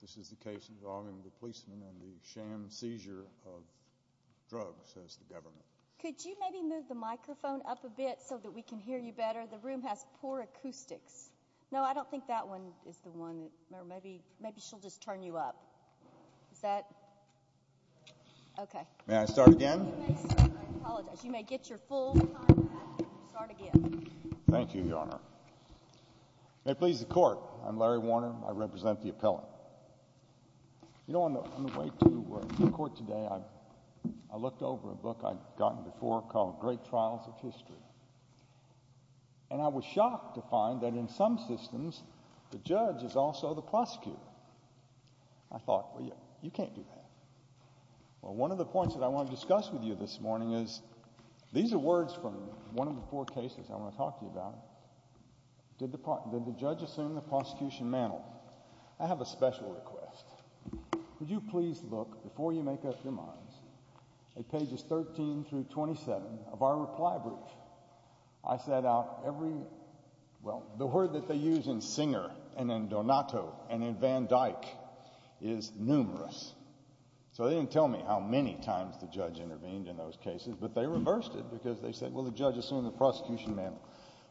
This is the case involving the policeman and the sham seizure of drugs, says the government. Could you maybe move the microphone up a bit so that we can hear you better? The room has poor acoustics. No, I don't think that one is the one. Maybe she'll just turn you up. Is that? Okay. May I start again? I apologize. You may get your full time back and start again. Thank you, Your Honor. May it please the Court, I'm Larry Warner. I represent the appellant. You know, on the way to the Court today, I looked over a book I'd gotten before called Great Trials of History. And I was shocked to find that in some systems, the judge is also the prosecutor. I thought, well, you can't do that. Well, one of the points that I want to discuss with you this morning is, these are words from one of the four cases I want to talk to you about. Did the judge assume the prosecution mantle? I have a special request. Would you please look, before you make up your minds, at pages 13 through 27 of our reply brief? I set out every—well, the word that they use in Singer and in Donato and in Van Dyke is numerous. So they didn't tell me how many times the judge intervened in those cases, but they reversed it because they said, well, the judge assumed the prosecution mantle.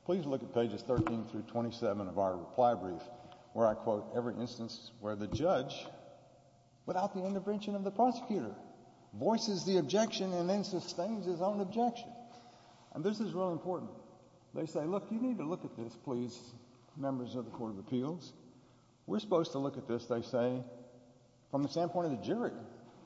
Please look at pages 13 through 27 of our reply brief, where I quote every instance where the judge, without the intervention of the prosecutor, voices the objection and then sustains his own objection. And this is really important. They say, look, you need to look at this, please, members of the Court of Appeals. We're supposed to look at this, they say, from the standpoint of the jury.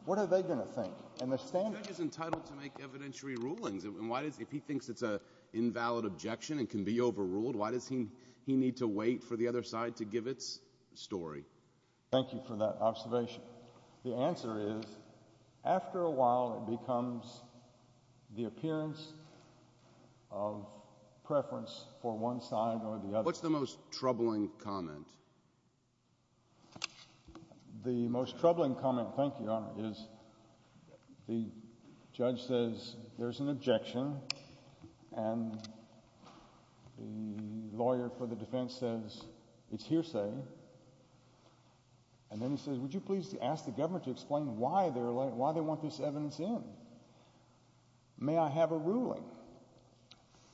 What are they going to think? And the standard— The judge is entitled to make evidentiary rulings. And why does—if he thinks it's an invalid objection and can be overruled, why does he need to wait for the other side to give its story? Thank you for that observation. The answer is, after a while, it becomes the appearance of preference for one side or the other. What's the most troubling comment? The most troubling comment, thank you, Your Honor, is the judge says there's an objection, and the lawyer for the defense says it's hearsay. And then he says, would you please ask the government to explain why they want this evidence in?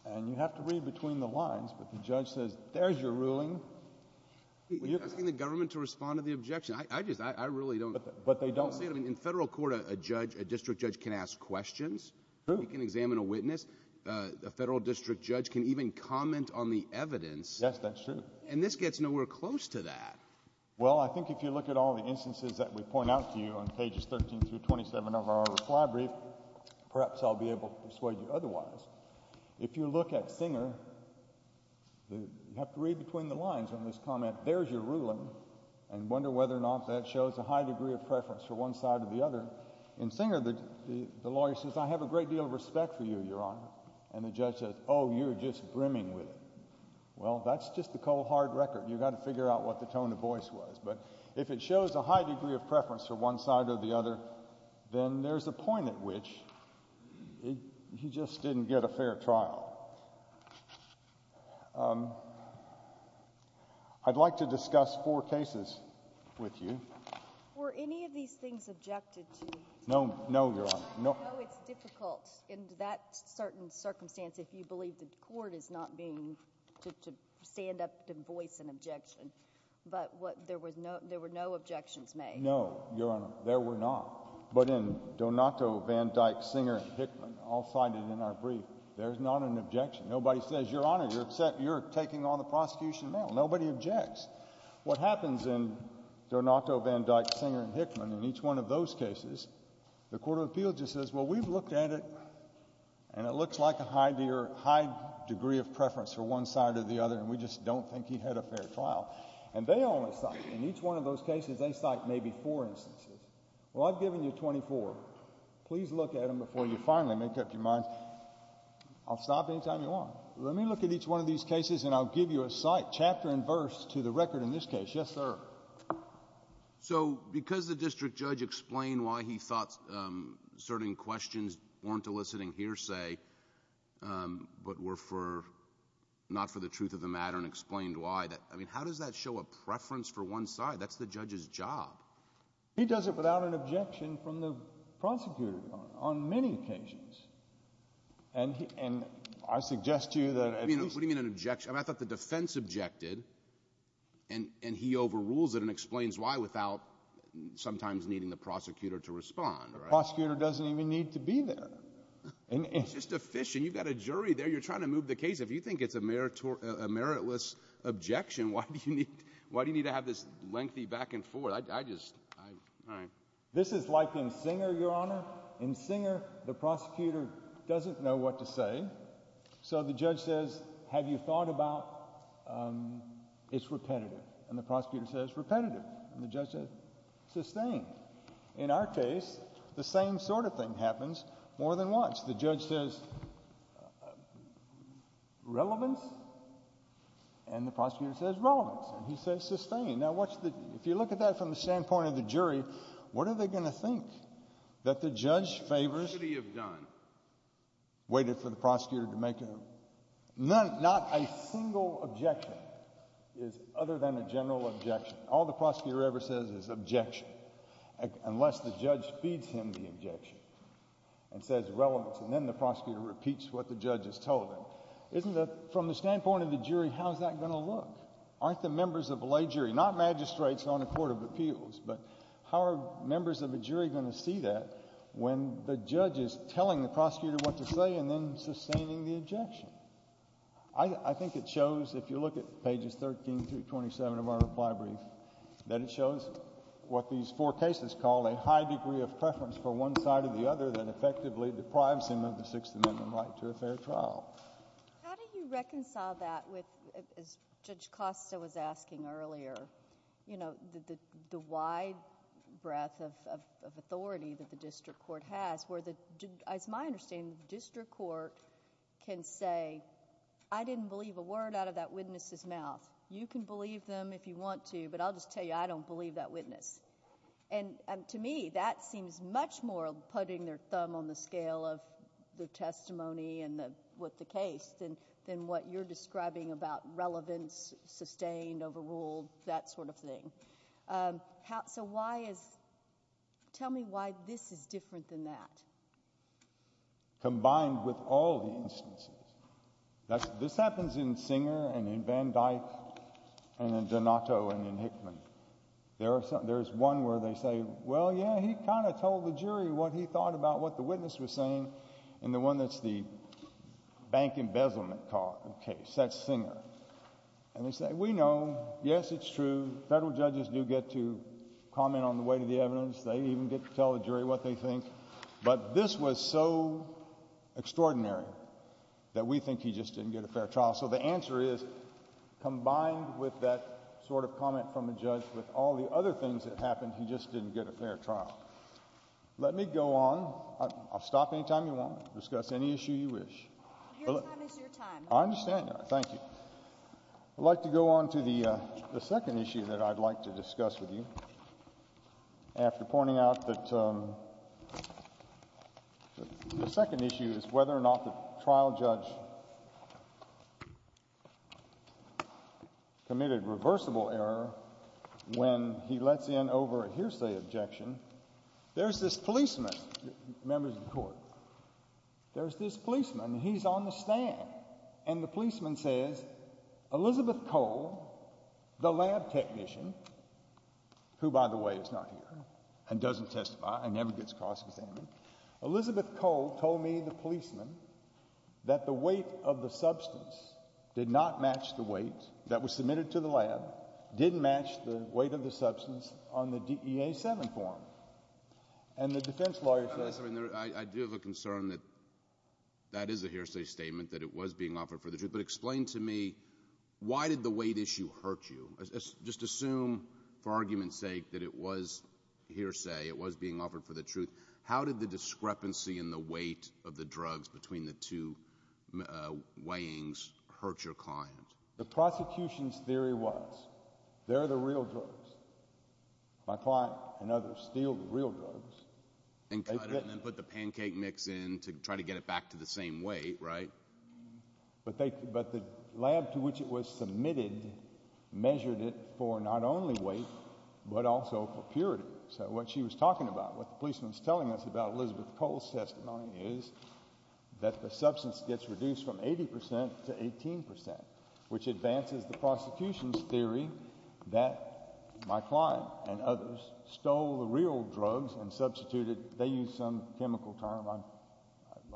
And you have to read between the lines, but the judge says there's your ruling. You're asking the government to respond to the objection. I just—I really don't— But they don't. I don't see it. I mean, in federal court, a judge, a district judge can ask questions. True. He can examine a witness. A federal district judge can even comment on the evidence. Yes, that's true. And this gets nowhere close to that. Well, I think if you look at all the instances that we point out to you on pages 13 through 27 of our reply brief, perhaps I'll be able to persuade you otherwise. If you look at Singer, you have to read between the lines on this comment, there's your ruling, and wonder whether or not that shows a high degree of preference for one side or the other. In Singer, the lawyer says, I have a great deal of respect for you, Your Honor. And the judge says, oh, you're just brimming with it. Well, that's just the cold, hard record. You've got to figure out what the tone of voice was. But if it shows a high degree of preference for one side or the other, then there's a point at which he just didn't get a fair trial. I'd like to discuss four cases with you. Were any of these things objected to? No, Your Honor. I know it's difficult in that certain circumstance if you believe the court is not being to stand up and voice an objection. But there were no objections made. No, Your Honor, there were not. But in Donato, Van Dyke, Singer, and Hickman, all cited in our brief, there's not an objection. Nobody says, Your Honor, you're upset, you're taking on the prosecution now. Nobody objects. What happens in Donato, Van Dyke, Singer, and Hickman, in each one of those cases, the court of appeals just says, well, we've looked at it, and it looks like a high degree of preference for one side or the other, and we just don't think he had a fair trial. And they only cite, in each one of those cases, they cite maybe four instances. Well, I've given you 24. Please look at them before you finally make up your mind. I'll stop any time you want. Let me look at each one of these cases, and I'll give you a cite, chapter and verse, to the record in this case. Yes, sir. So because the district judge explained why he thought certain questions weren't eliciting hearsay but were not for the truth of the matter and explained why, I mean, how does that show a preference for one side? That's the judge's job. He does it without an objection from the prosecutor on many occasions. And I suggest to you that at least – What do you mean an objection? I thought the defense objected, and he overrules it and explains why without sometimes needing the prosecutor to respond. The prosecutor doesn't even need to be there. It's just a fish, and you've got a jury there. You're trying to move the case. If you think it's a meritless objection, why do you need to have this lengthy back and forth? I just – all right. This is like in Singer, Your Honor. In Singer, the prosecutor doesn't know what to say, so the judge says, Have you thought about – it's repetitive. And the prosecutor says, Repetitive. And the judge says, Sustained. In our case, the same sort of thing happens more than once. The judge says, Relevance. And the prosecutor says, Relevance. And he says, Sustained. Now, if you look at that from the standpoint of the jury, what are they going to think? That the judge favors – What should he have done? Waited for the prosecutor to make a – not a single objection is other than a general objection. All the prosecutor ever says is objection, unless the judge feeds him the objection and says relevance, and then the prosecutor repeats what the judge has told him. From the standpoint of the jury, how is that going to look? Aren't the members of a lay jury – not magistrates on a court of appeals, but how are members of a jury going to see that when the judge is telling the prosecutor what to say and then sustaining the objection? I think it shows, if you look at pages 13 through 27 of our reply brief, that it shows what these four cases call a high degree of preference for one side or the other that effectively deprives him of the Sixth Amendment right to a fair trial. How do you reconcile that with, as Judge Costa was asking earlier, the wide breadth of authority that the district court has where, as my understanding, the district court can say, I didn't believe a word out of that witness's mouth. You can believe them if you want to, but I'll just tell you I don't believe that witness. To me, that seems much more putting their thumb on the scale of the testimony and with the case than what you're describing about relevance, sustained, overruled, that sort of thing. So why is – tell me why this is different than that. Combined with all the instances. This happens in Singer and in Van Dyck and in Donato and in Hickman. There is one where they say, well, yeah, he kind of told the jury what he thought about what the witness was saying in the one that's the bank embezzlement case. That's Singer. And they say, we know. Yes, it's true. Federal judges do get to comment on the weight of the evidence. They even get to tell the jury what they think. But this was so extraordinary that we think he just didn't get a fair trial. So the answer is, combined with that sort of comment from a judge, with all the other things that happened, he just didn't get a fair trial. Let me go on. I'll stop any time you want. Discuss any issue you wish. Your time is your time. I understand that. Thank you. I'd like to go on to the second issue that I'd like to discuss with you. After pointing out that the second issue is whether or not the trial judge committed reversible error when he lets in over a hearsay objection, there's this policeman. Members of the Court, there's this policeman. He's on the stand. And the policeman says, Elizabeth Cole, the lab technician, who, by the way, is not here and doesn't testify and never gets cross-examined, Elizabeth Cole told me, the policeman, that the weight of the substance did not match the weight that was submitted to the lab, didn't match the weight of the substance on the DEA 7 form. And the defense lawyer says... I do have a concern that that is a hearsay statement, that it was being offered for the truth. But explain to me why did the weight issue hurt you? Just assume, for argument's sake, that it was hearsay, it was being offered for the truth. How did the discrepancy in the weight of the drugs between the two weighings hurt your client? The prosecution's theory was they're the real drugs. My client and others steal the real drugs. And cut it and then put the pancake mix in to try to get it back to the same weight, right? But the lab to which it was submitted measured it for not only weight but also for purity. So what she was talking about, what the policeman was telling us about Elizabeth Cole's testimony, is that the substance gets reduced from 80 percent to 18 percent, which advances the prosecution's theory that my client and others stole the real drugs and substituted... They used some chemical term.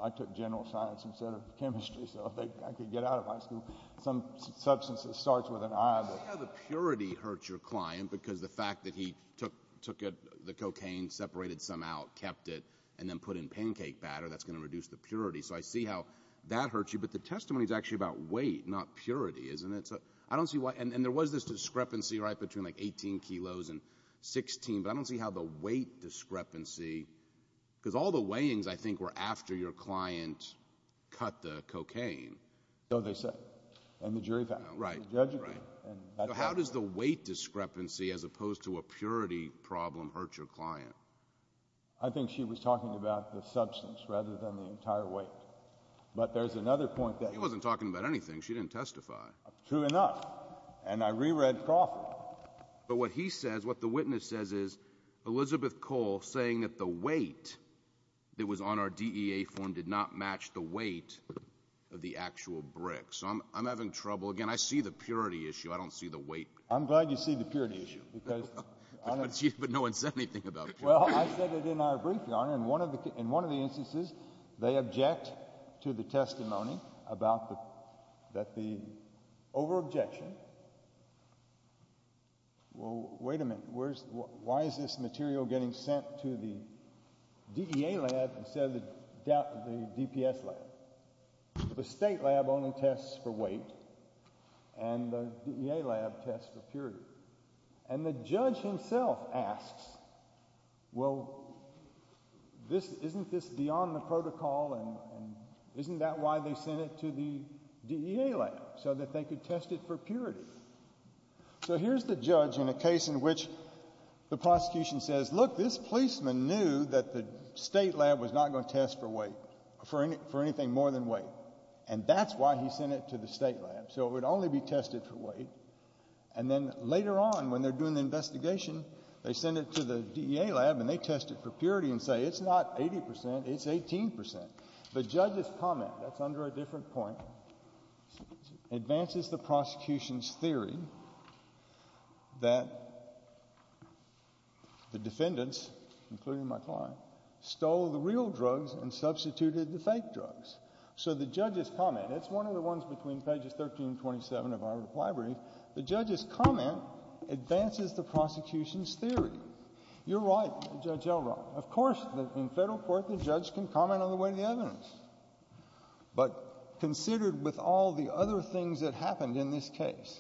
I took general science instead of chemistry, so I could get out of high school. Some substance that starts with an I. I see how the purity hurts your client because the fact that he took the cocaine, separated some out, kept it, and then put in pancake batter, that's going to reduce the purity. So I see how that hurts you. But the testimony is actually about weight, not purity, isn't it? So I don't see why... And there was this discrepancy, right, between like 18 kilos and 16. But I don't see how the weight discrepancy... Because all the weighings, I think, were after your client cut the cocaine. So they said. And the jury found it. Right. And the judge agreed. So how does the weight discrepancy, as opposed to a purity problem, hurt your client? I think she was talking about the substance rather than the entire weight. But there's another point that... She wasn't talking about anything. She didn't testify. True enough. And I reread Crawford. But what he says, what the witness says is, Elizabeth Cole saying that the weight that was on our DEA form did not match the weight of the actual brick. So I'm having trouble. Again, I see the purity issue. I don't see the weight. I'm glad you see the purity issue because... But no one said anything about purity. In one of the instances, they object to the testimony that the over-objection... Well, wait a minute. Why is this material getting sent to the DEA lab instead of the DPS lab? The state lab only tests for weight. And the DEA lab tests for purity. And the judge himself asks, well, isn't this beyond the protocol and isn't that why they sent it to the DEA lab? So that they could test it for purity. So here's the judge in a case in which the prosecution says, look, this policeman knew that the state lab was not going to test for weight. For anything more than weight. And that's why he sent it to the state lab. So it would only be tested for weight. And then later on, when they're doing the investigation, they send it to the DEA lab and they test it for purity and say it's not 80%, it's 18%. The judge's comment, that's under a different point, advances the prosecution's theory that the defendants, including my client, stole the real drugs and substituted the fake drugs. So the judge's comment, it's one of the ones between pages 13 and 27 of our reply brief. The judge's comment advances the prosecution's theory. You're right, Judge Elrond. Of course, in federal court, the judge can comment on the weight of the evidence. But considered with all the other things that happened in this case,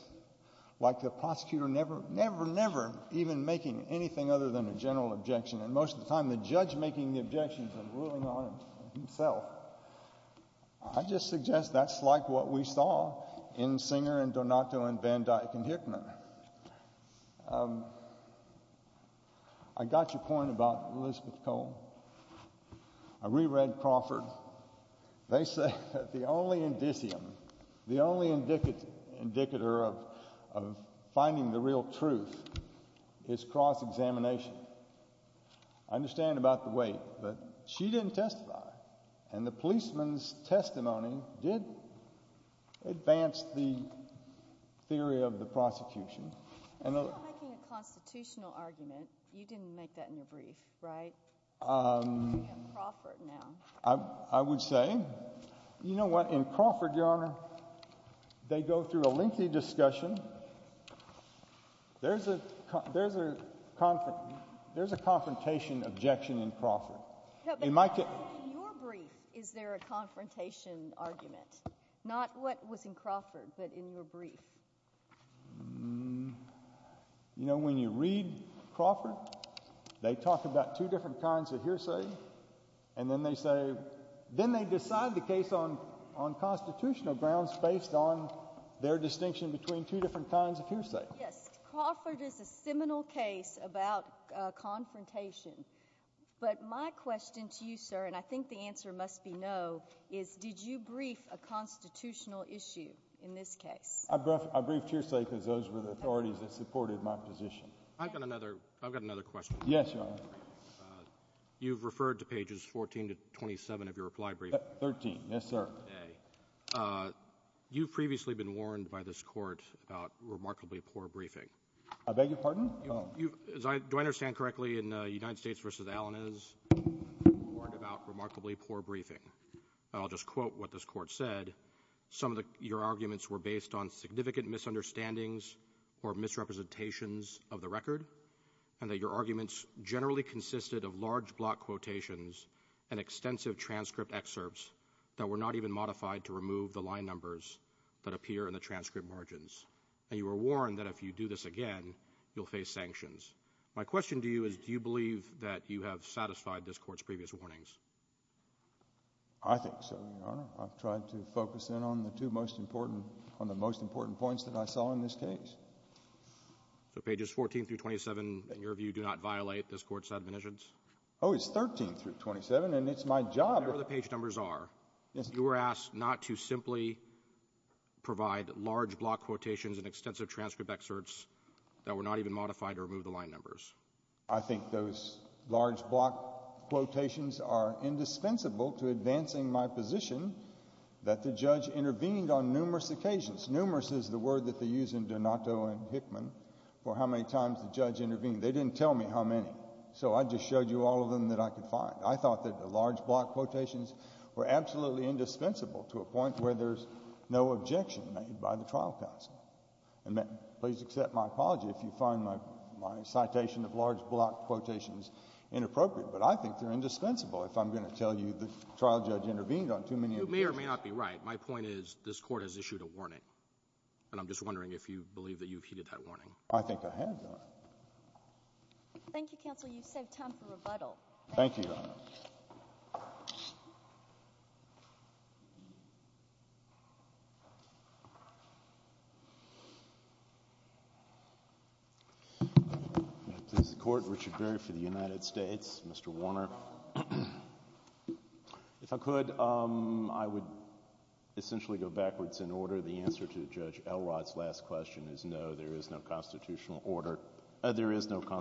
like the prosecutor never, never, never even making anything other than a general objection, and most of the time the judge making the objections and ruling on himself, I just suggest that's like what we saw in Singer and Donato and Van Dyck and Hickman. I got your point about Elizabeth Cole. I reread Crawford. They say that the only indicium, the only indicator of finding the real truth is cross-examination. I understand about the weight, but she didn't testify. And the policeman's testimony did advance the theory of the prosecution. You're not making a constitutional argument. You didn't make that in your brief, right? I would say, you know what, in Crawford, Your Honor, they go through a lengthy discussion. There's a confrontation objection in Crawford. In your brief, is there a confrontation argument? Not what was in Crawford, but in your brief. You know, when you read Crawford, they talk about two different kinds of hearsay, and then they say, then they decide the case on constitutional grounds based on their distinction between two different kinds of hearsay. Yes. Crawford is a seminal case about confrontation. But my question to you, sir, and I think the answer must be no, is did you brief a constitutional issue in this case? I briefed hearsay because those were the authorities that supported my position. I've got another question. Yes, Your Honor. You've referred to pages 14 to 27 of your reply brief. 13, yes, sir. Okay. You've previously been warned by this court about remarkably poor briefing. I beg your pardon? Do I understand correctly, in United States v. Allen is warned about remarkably poor briefing. I'll just quote what this court said. Some of your arguments were based on significant misunderstandings or misrepresentations of the record, and that your arguments generally consisted of large block quotations and extensive transcript excerpts that were not even modified to remove the line numbers that appear in the transcript margins. And you were warned that if you do this again, you'll face sanctions. My question to you is do you believe that you have satisfied this court's previous warnings? I think so, Your Honor. I've tried to focus in on the two most important points that I saw in this case. So pages 14 through 27, in your view, do not violate this court's admonitions? Oh, it's 13 through 27, and it's my job. Whatever the page numbers are, you were asked not to simply provide large block quotations and extensive transcript excerpts that were not even modified to remove the line numbers. I think those large block quotations are indispensable to advancing my position that the judge intervened on numerous occasions. Numerous is the word that they use in Donato and Hickman for how many times the judge intervened. They didn't tell me how many, so I just showed you all of them that I could find. I thought that the large block quotations were absolutely indispensable to a point where there's no objection made by the trial counsel. Please accept my apology if you find my citation of large block quotations inappropriate, but I think they're indispensable if I'm going to tell you the trial judge intervened on too many occasions. You may or may not be right. My point is this court has issued a warning, and I'm just wondering if you believe that you've heeded that warning. I think I have, Your Honor. Thank you, Counsel. You've saved time for rebuttal. Thank you, Your Honor. May it please the Court, Richard Berry for the United States, Mr. Warner. If I could, I would essentially go backwards in order. The answer to Judge Elrod's last question is no, there is no constitutional order. It does look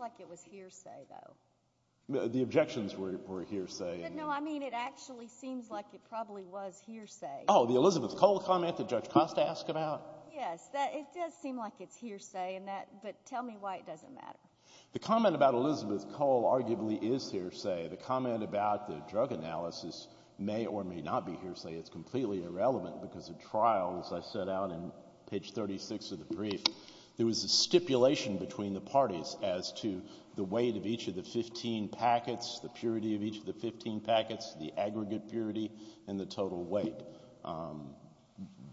like it was hearsay, though. The objections were hearsay. No, I mean it actually seems like it probably was hearsay. Oh, the Elizabeth Cole comment that Judge Costa asked about? Yes, it does seem like it's hearsay, but tell me why it doesn't matter. The comment about Elizabeth Cole arguably is hearsay. The comment about the drug analysis may or may not be hearsay. It's completely irrelevant because the trial, as I set out in page 36 of the brief, there was a stipulation between the parties as to the weight of each of the 15 packets, the purity of each of the 15 packets, the aggregate purity, and the total weight.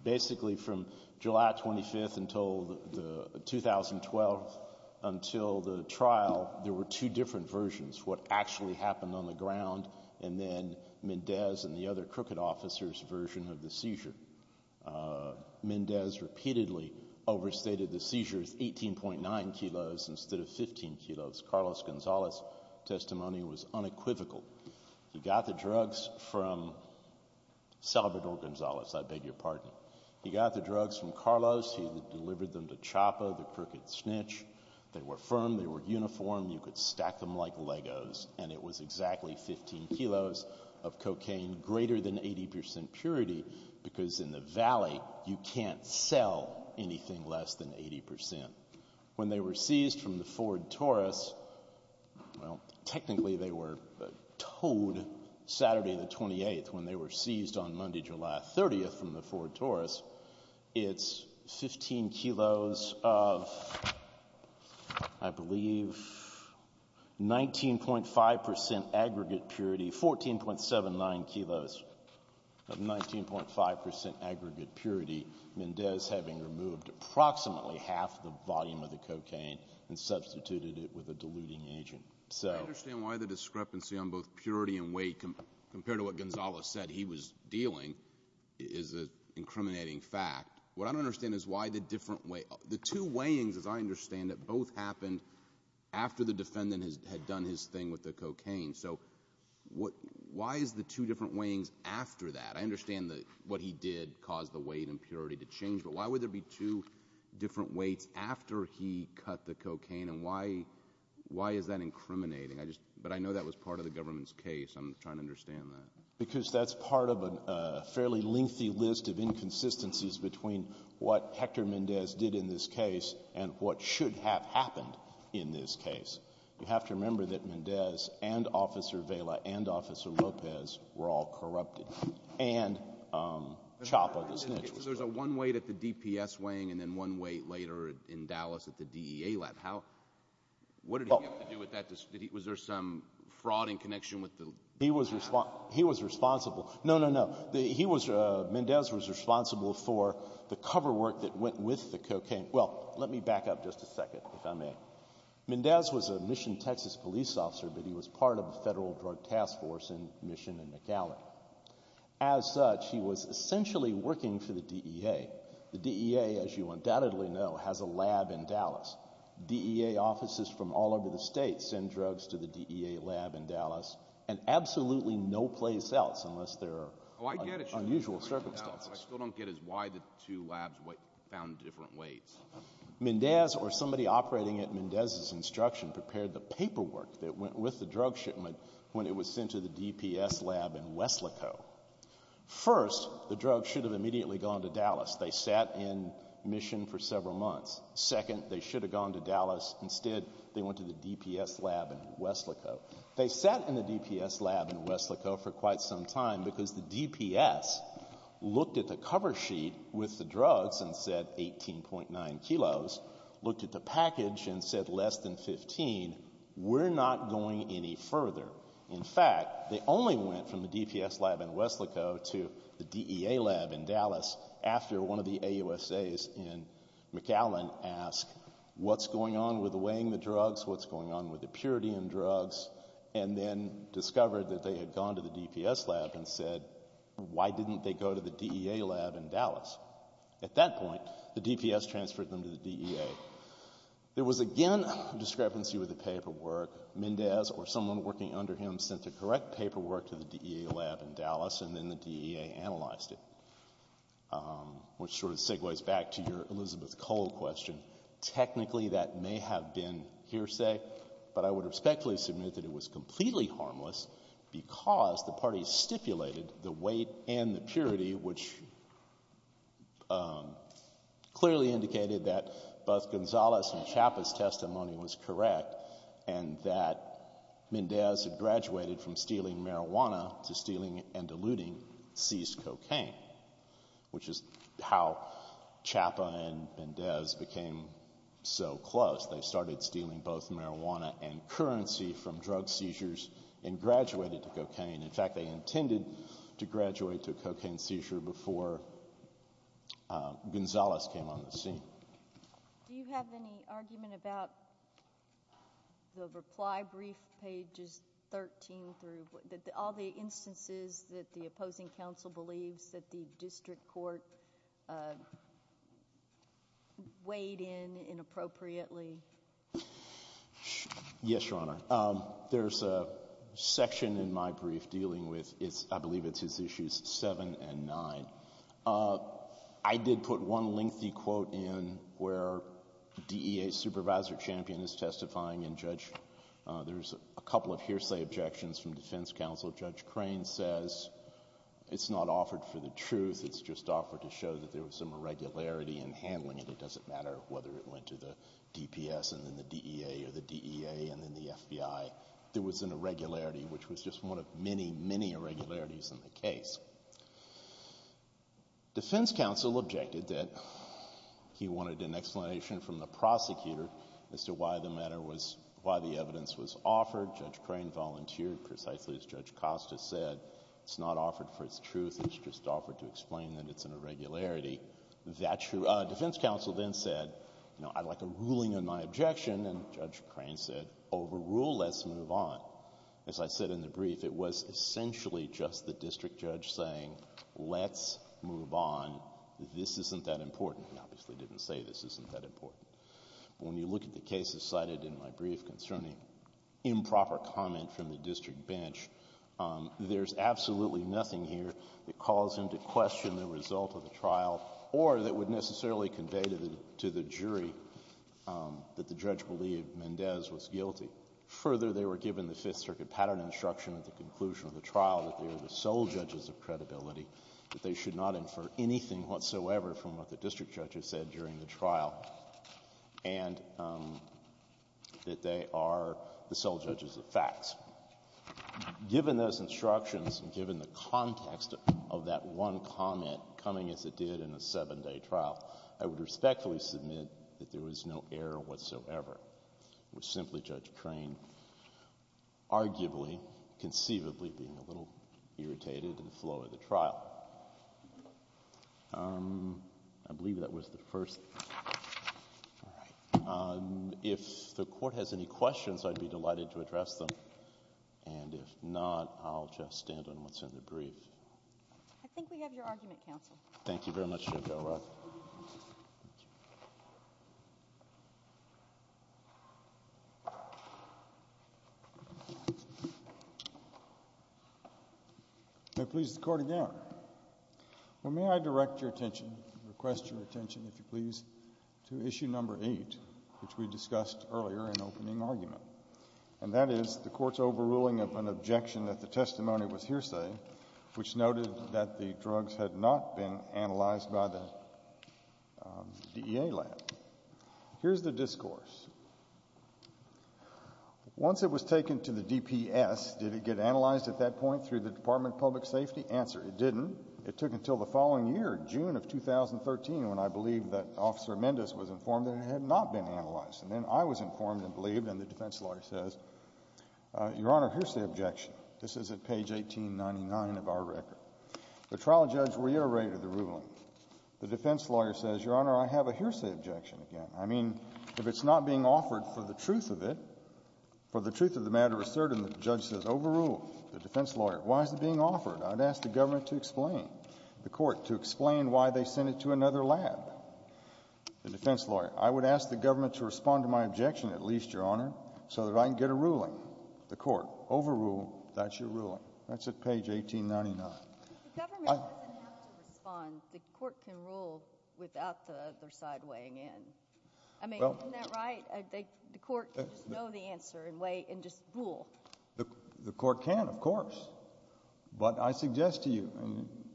Basically from July 25th until 2012, until the trial, there were two different versions, what actually happened on the ground and then Mendez and the other crooked officer's version of the seizure. Mendez repeatedly overstated the seizures 18.9 kilos instead of 15 kilos. Carlos Gonzalez's testimony was unequivocal. He got the drugs from Salvador Gonzalez, I beg your pardon. He got the drugs from Carlos. He delivered them to Chapa, the crooked snitch. They were firm. They were uniform. You could stack them like Legos, and it was exactly 15 kilos of cocaine, greater than 80% purity because in the valley you can't sell anything less than 80%. When they were seized from the Ford Taurus, well, technically they were towed Saturday the 28th. When they were seized on Monday, July 30th from the Ford Taurus, it's 15 kilos of, I believe, 19.5% aggregate purity, 14.79 kilos of 19.5% aggregate purity, Mendez having removed approximately half the volume of the cocaine and substituted it with a diluting agent. I understand why the discrepancy on both purity and weight compared to what Gonzalez said he was dealing is an incriminating fact. What I don't understand is why the two weighings, as I understand it, both happened after the defendant had done his thing with the cocaine. So why is the two different weighings after that? I understand what he did caused the weight and purity to change, but why would there be two different weights after he cut the cocaine, and why is that incriminating? But I know that was part of the government's case. I'm trying to understand that. Because that's part of a fairly lengthy list of inconsistencies between what Hector Mendez did in this case and what should have happened in this case. You have to remember that Mendez and Officer Vela and Officer Lopez were all corrupted, and Chapa, the snitch. So there's a one weight at the DPS weighing and then one weight later in Dallas at the DEA lab. What did he have to do with that? Was there some fraud in connection with the— He was responsible. No, no, no. Mendez was responsible for the cover work that went with the cocaine. Well, let me back up just a second, if I may. Mendez was a Mission, Texas, police officer, but he was part of a federal drug task force in Mission and McAllen. As such, he was essentially working for the DEA. The DEA, as you undoubtedly know, has a lab in Dallas. DEA offices from all over the state send drugs to the DEA lab in Dallas and absolutely no place else unless there are unusual circumstances. What I still don't get is why the two labs found different weights. Mendez or somebody operating at Mendez's instruction prepared the paperwork that went with the drug shipment when it was sent to the DPS lab in West Lico. First, the drug should have immediately gone to Dallas. They sat in Mission for several months. Second, they should have gone to Dallas. Instead, they went to the DPS lab in West Lico. They sat in the DPS lab in West Lico for quite some time because the DPS looked at the cover sheet with the drugs and said 18.9 kilos, looked at the package and said less than 15. We're not going any further. In fact, they only went from the DPS lab in West Lico to the DEA lab in Dallas after one of the AUSAs in McAllen asked, what's going on with weighing the drugs, what's going on with the purity in drugs, and then discovered that they had gone to the DPS lab and said, why didn't they go to the DEA lab in Dallas? At that point, the DPS transferred them to the DEA. There was again a discrepancy with the paperwork. Mendez or someone working under him sent the correct paperwork to the DEA lab in Dallas and then the DEA analyzed it, which sort of segues back to your Elizabeth Cole question. Technically, that may have been hearsay, but I would respectfully submit that it was completely harmless because the parties stipulated the weight and the purity, which clearly indicated that both Gonzales and Chapa's testimony was correct and that Mendez had graduated from stealing marijuana to stealing and diluting seized cocaine, which is how Chapa and Mendez became so close. They started stealing both marijuana and currency from drug seizures and graduated to cocaine. In fact, they intended to graduate to a cocaine seizure before Gonzales came on the scene. Do you have any argument about the reply brief pages 13 through, all the instances that the opposing counsel believes that the district court weighed in inappropriately? Yes, Your Honor. There's a section in my brief dealing with, I believe it's issues 7 and 9. I did put one lengthy quote in where DEA supervisor champion is testifying and there's a couple of hearsay objections from defense counsel. Judge Crane says it's not offered for the truth. It's just offered to show that there was some irregularity in handling it. It doesn't matter whether it went to the DPS and then the DEA or the DEA and then the FBI. There was an irregularity, which was just one of many, many irregularities in the case. Defense counsel objected that he wanted an explanation from the prosecutor as to why the matter was, why the evidence was offered. Judge Crane volunteered precisely as Judge Costa said. It's not offered for its truth. It's just offered to explain that it's an irregularity. That's true. Defense counsel then said, you know, I'd like a ruling on my objection. And Judge Crane said, overrule, let's move on. As I said in the brief, it was essentially just the district judge saying, let's move on. This isn't that important. He obviously didn't say this isn't that important. When you look at the cases cited in my brief concerning improper comment from the district bench, there's absolutely nothing here that caused him to question the result of the trial or that would necessarily convey to the jury that the judge believed Mendez was guilty. Further, they were given the Fifth Circuit pattern instruction at the conclusion of the trial that they are the sole judges of credibility, that they should not infer anything whatsoever from what the district judge has said during the trial, and that they are the sole judges of facts. Given those instructions and given the context of that one comment coming as it did in a seven-day trial, I would respectfully submit that there was no error whatsoever. It was simply Judge Crane arguably, conceivably being a little irritated at the flow of the trial. I believe that was the first. All right. If the Court has any questions, I'd be delighted to address them. And if not, I'll just stand on what's in the brief. I think we have your argument, Counsel. Thank you very much, Judge Elrod. May I please the Court adjourn? Well, may I direct your attention, request your attention, if you please, to Issue No. 8, which we discussed earlier in opening argument, and that is the Court's overruling of an objection that the testimony was hearsay, which noted that the drugs had not been analyzed by the DEA lab. Here's the discourse. Once it was taken to the DPS, did it get analyzed at that point through the Department of Public Safety? The answer, it didn't. It took until the following year, June of 2013, when I believe that Officer Mendez was informed that it had not been analyzed. And then I was informed and believed, and the defense lawyer says, Your Honor, here's the objection. This is at page 1899 of our record. The trial judge reiterated the ruling. The defense lawyer says, Your Honor, I have a hearsay objection again. I mean, if it's not being offered for the truth of it, for the truth of the matter asserted, and the judge says overrule, the defense lawyer, why is it being offered? I'd ask the government to explain. The court, to explain why they sent it to another lab. The defense lawyer, I would ask the government to respond to my objection, at least, Your Honor, so that I can get a ruling. The court, overrule, that's your ruling. That's at page 1899. The government doesn't have to respond. The court can rule without the other side weighing in. I mean, isn't that right? The court can just know the answer and weigh in, just rule. The court can, of course. But I suggest to you,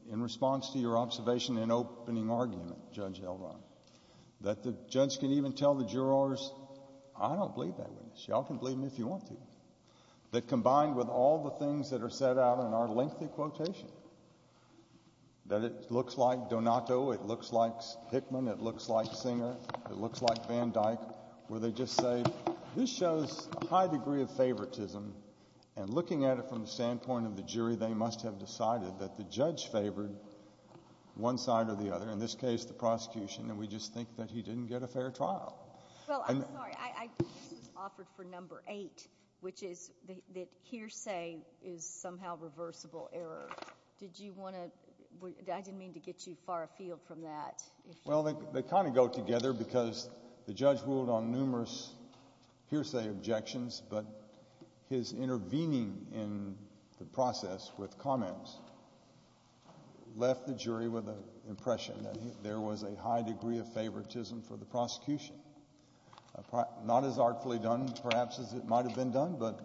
in response to your observation and opening argument, Judge Elrond, that the judge can even tell the jurors, I don't believe that witness. You all can believe me if you want to. That combined with all the things that are set out in our lengthy quotation, that it looks like Donato, it looks like Hickman, it looks like Singer, it looks like Van Dyke, where they just say, this shows a high degree of favoritism, and looking at it from the standpoint of the jury, they must have decided that the judge favored one side or the other, in this case the prosecution, and we just think that he didn't get a fair trial. Well, I'm sorry. I think this was offered for number eight, which is that hearsay is somehow reversible error. Did you want to – I didn't mean to get you far afield from that. Well, they kind of go together because the judge ruled on numerous hearsay objections, but his intervening in the process with comments left the jury with an impression that there was a high degree of favoritism for the prosecution, not as artfully done perhaps as it might have been done, but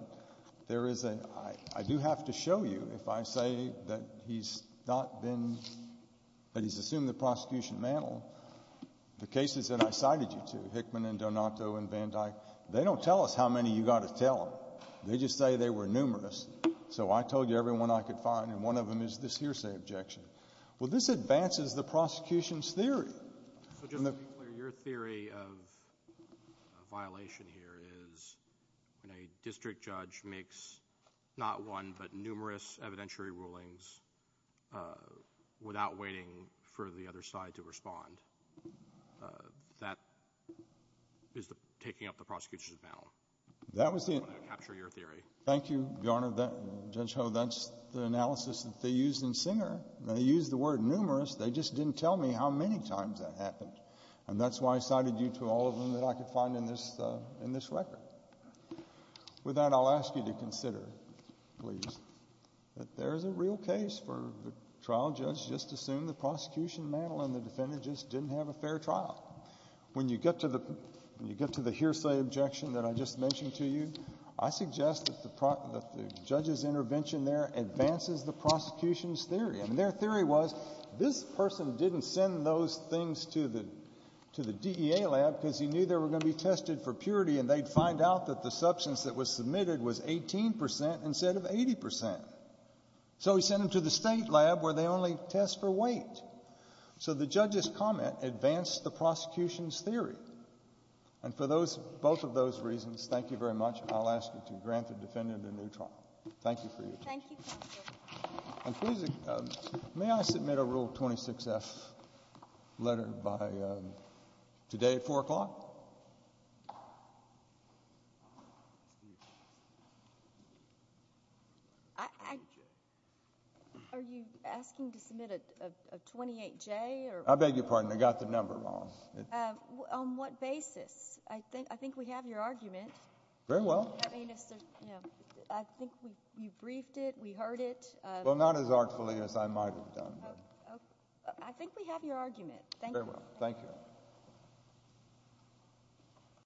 there is a – I do have to show you, if I say that he's not been – that he's assumed the prosecution mantle, the cases that I cited you to, Hickman and Donato and Van Dyke, they don't tell us how many you've got to tell them. They just say they were numerous, so I told you every one I could find, and one of them is this hearsay objection. Well, this advances the prosecution's theory. So just to be clear, your theory of violation here is when a district judge makes not one but numerous evidentiary rulings without waiting for the other side to respond. That is taking up the prosecution's mantle. That was the – I want to capture your theory. Thank you, Your Honor. Judge Ho, that's the analysis that they used in Singer. They used the word numerous. They just didn't tell me how many times that happened, and that's why I cited you to all of them that I could find in this record. With that, I'll ask you to consider, please, that there is a real case for the trial judge just to assume the prosecution mantle and the defendant just didn't have a fair trial. When you get to the hearsay objection that I just mentioned to you, I suggest that the judge's intervention there advances the prosecution's theory, and their theory was this person didn't send those things to the DEA lab because he knew they were going to be tested for purity and they'd find out that the substance that was submitted was 18% instead of 80%. So he sent them to the state lab where they only test for weight. So the judge's comment advanced the prosecution's theory. And for both of those reasons, thank you very much. I'll ask you to grant the defendant a new trial. Thank you for your time. Thank you, Counselor. May I submit a Rule 26-F letter today at 4 o'clock? Are you asking to submit a 28-J? I beg your pardon. I got the number wrong. On what basis? I think we have your argument. Very well. I think we briefed it, we heard it. Well, not as artfully as I might have done. I think we have your argument. Thank you.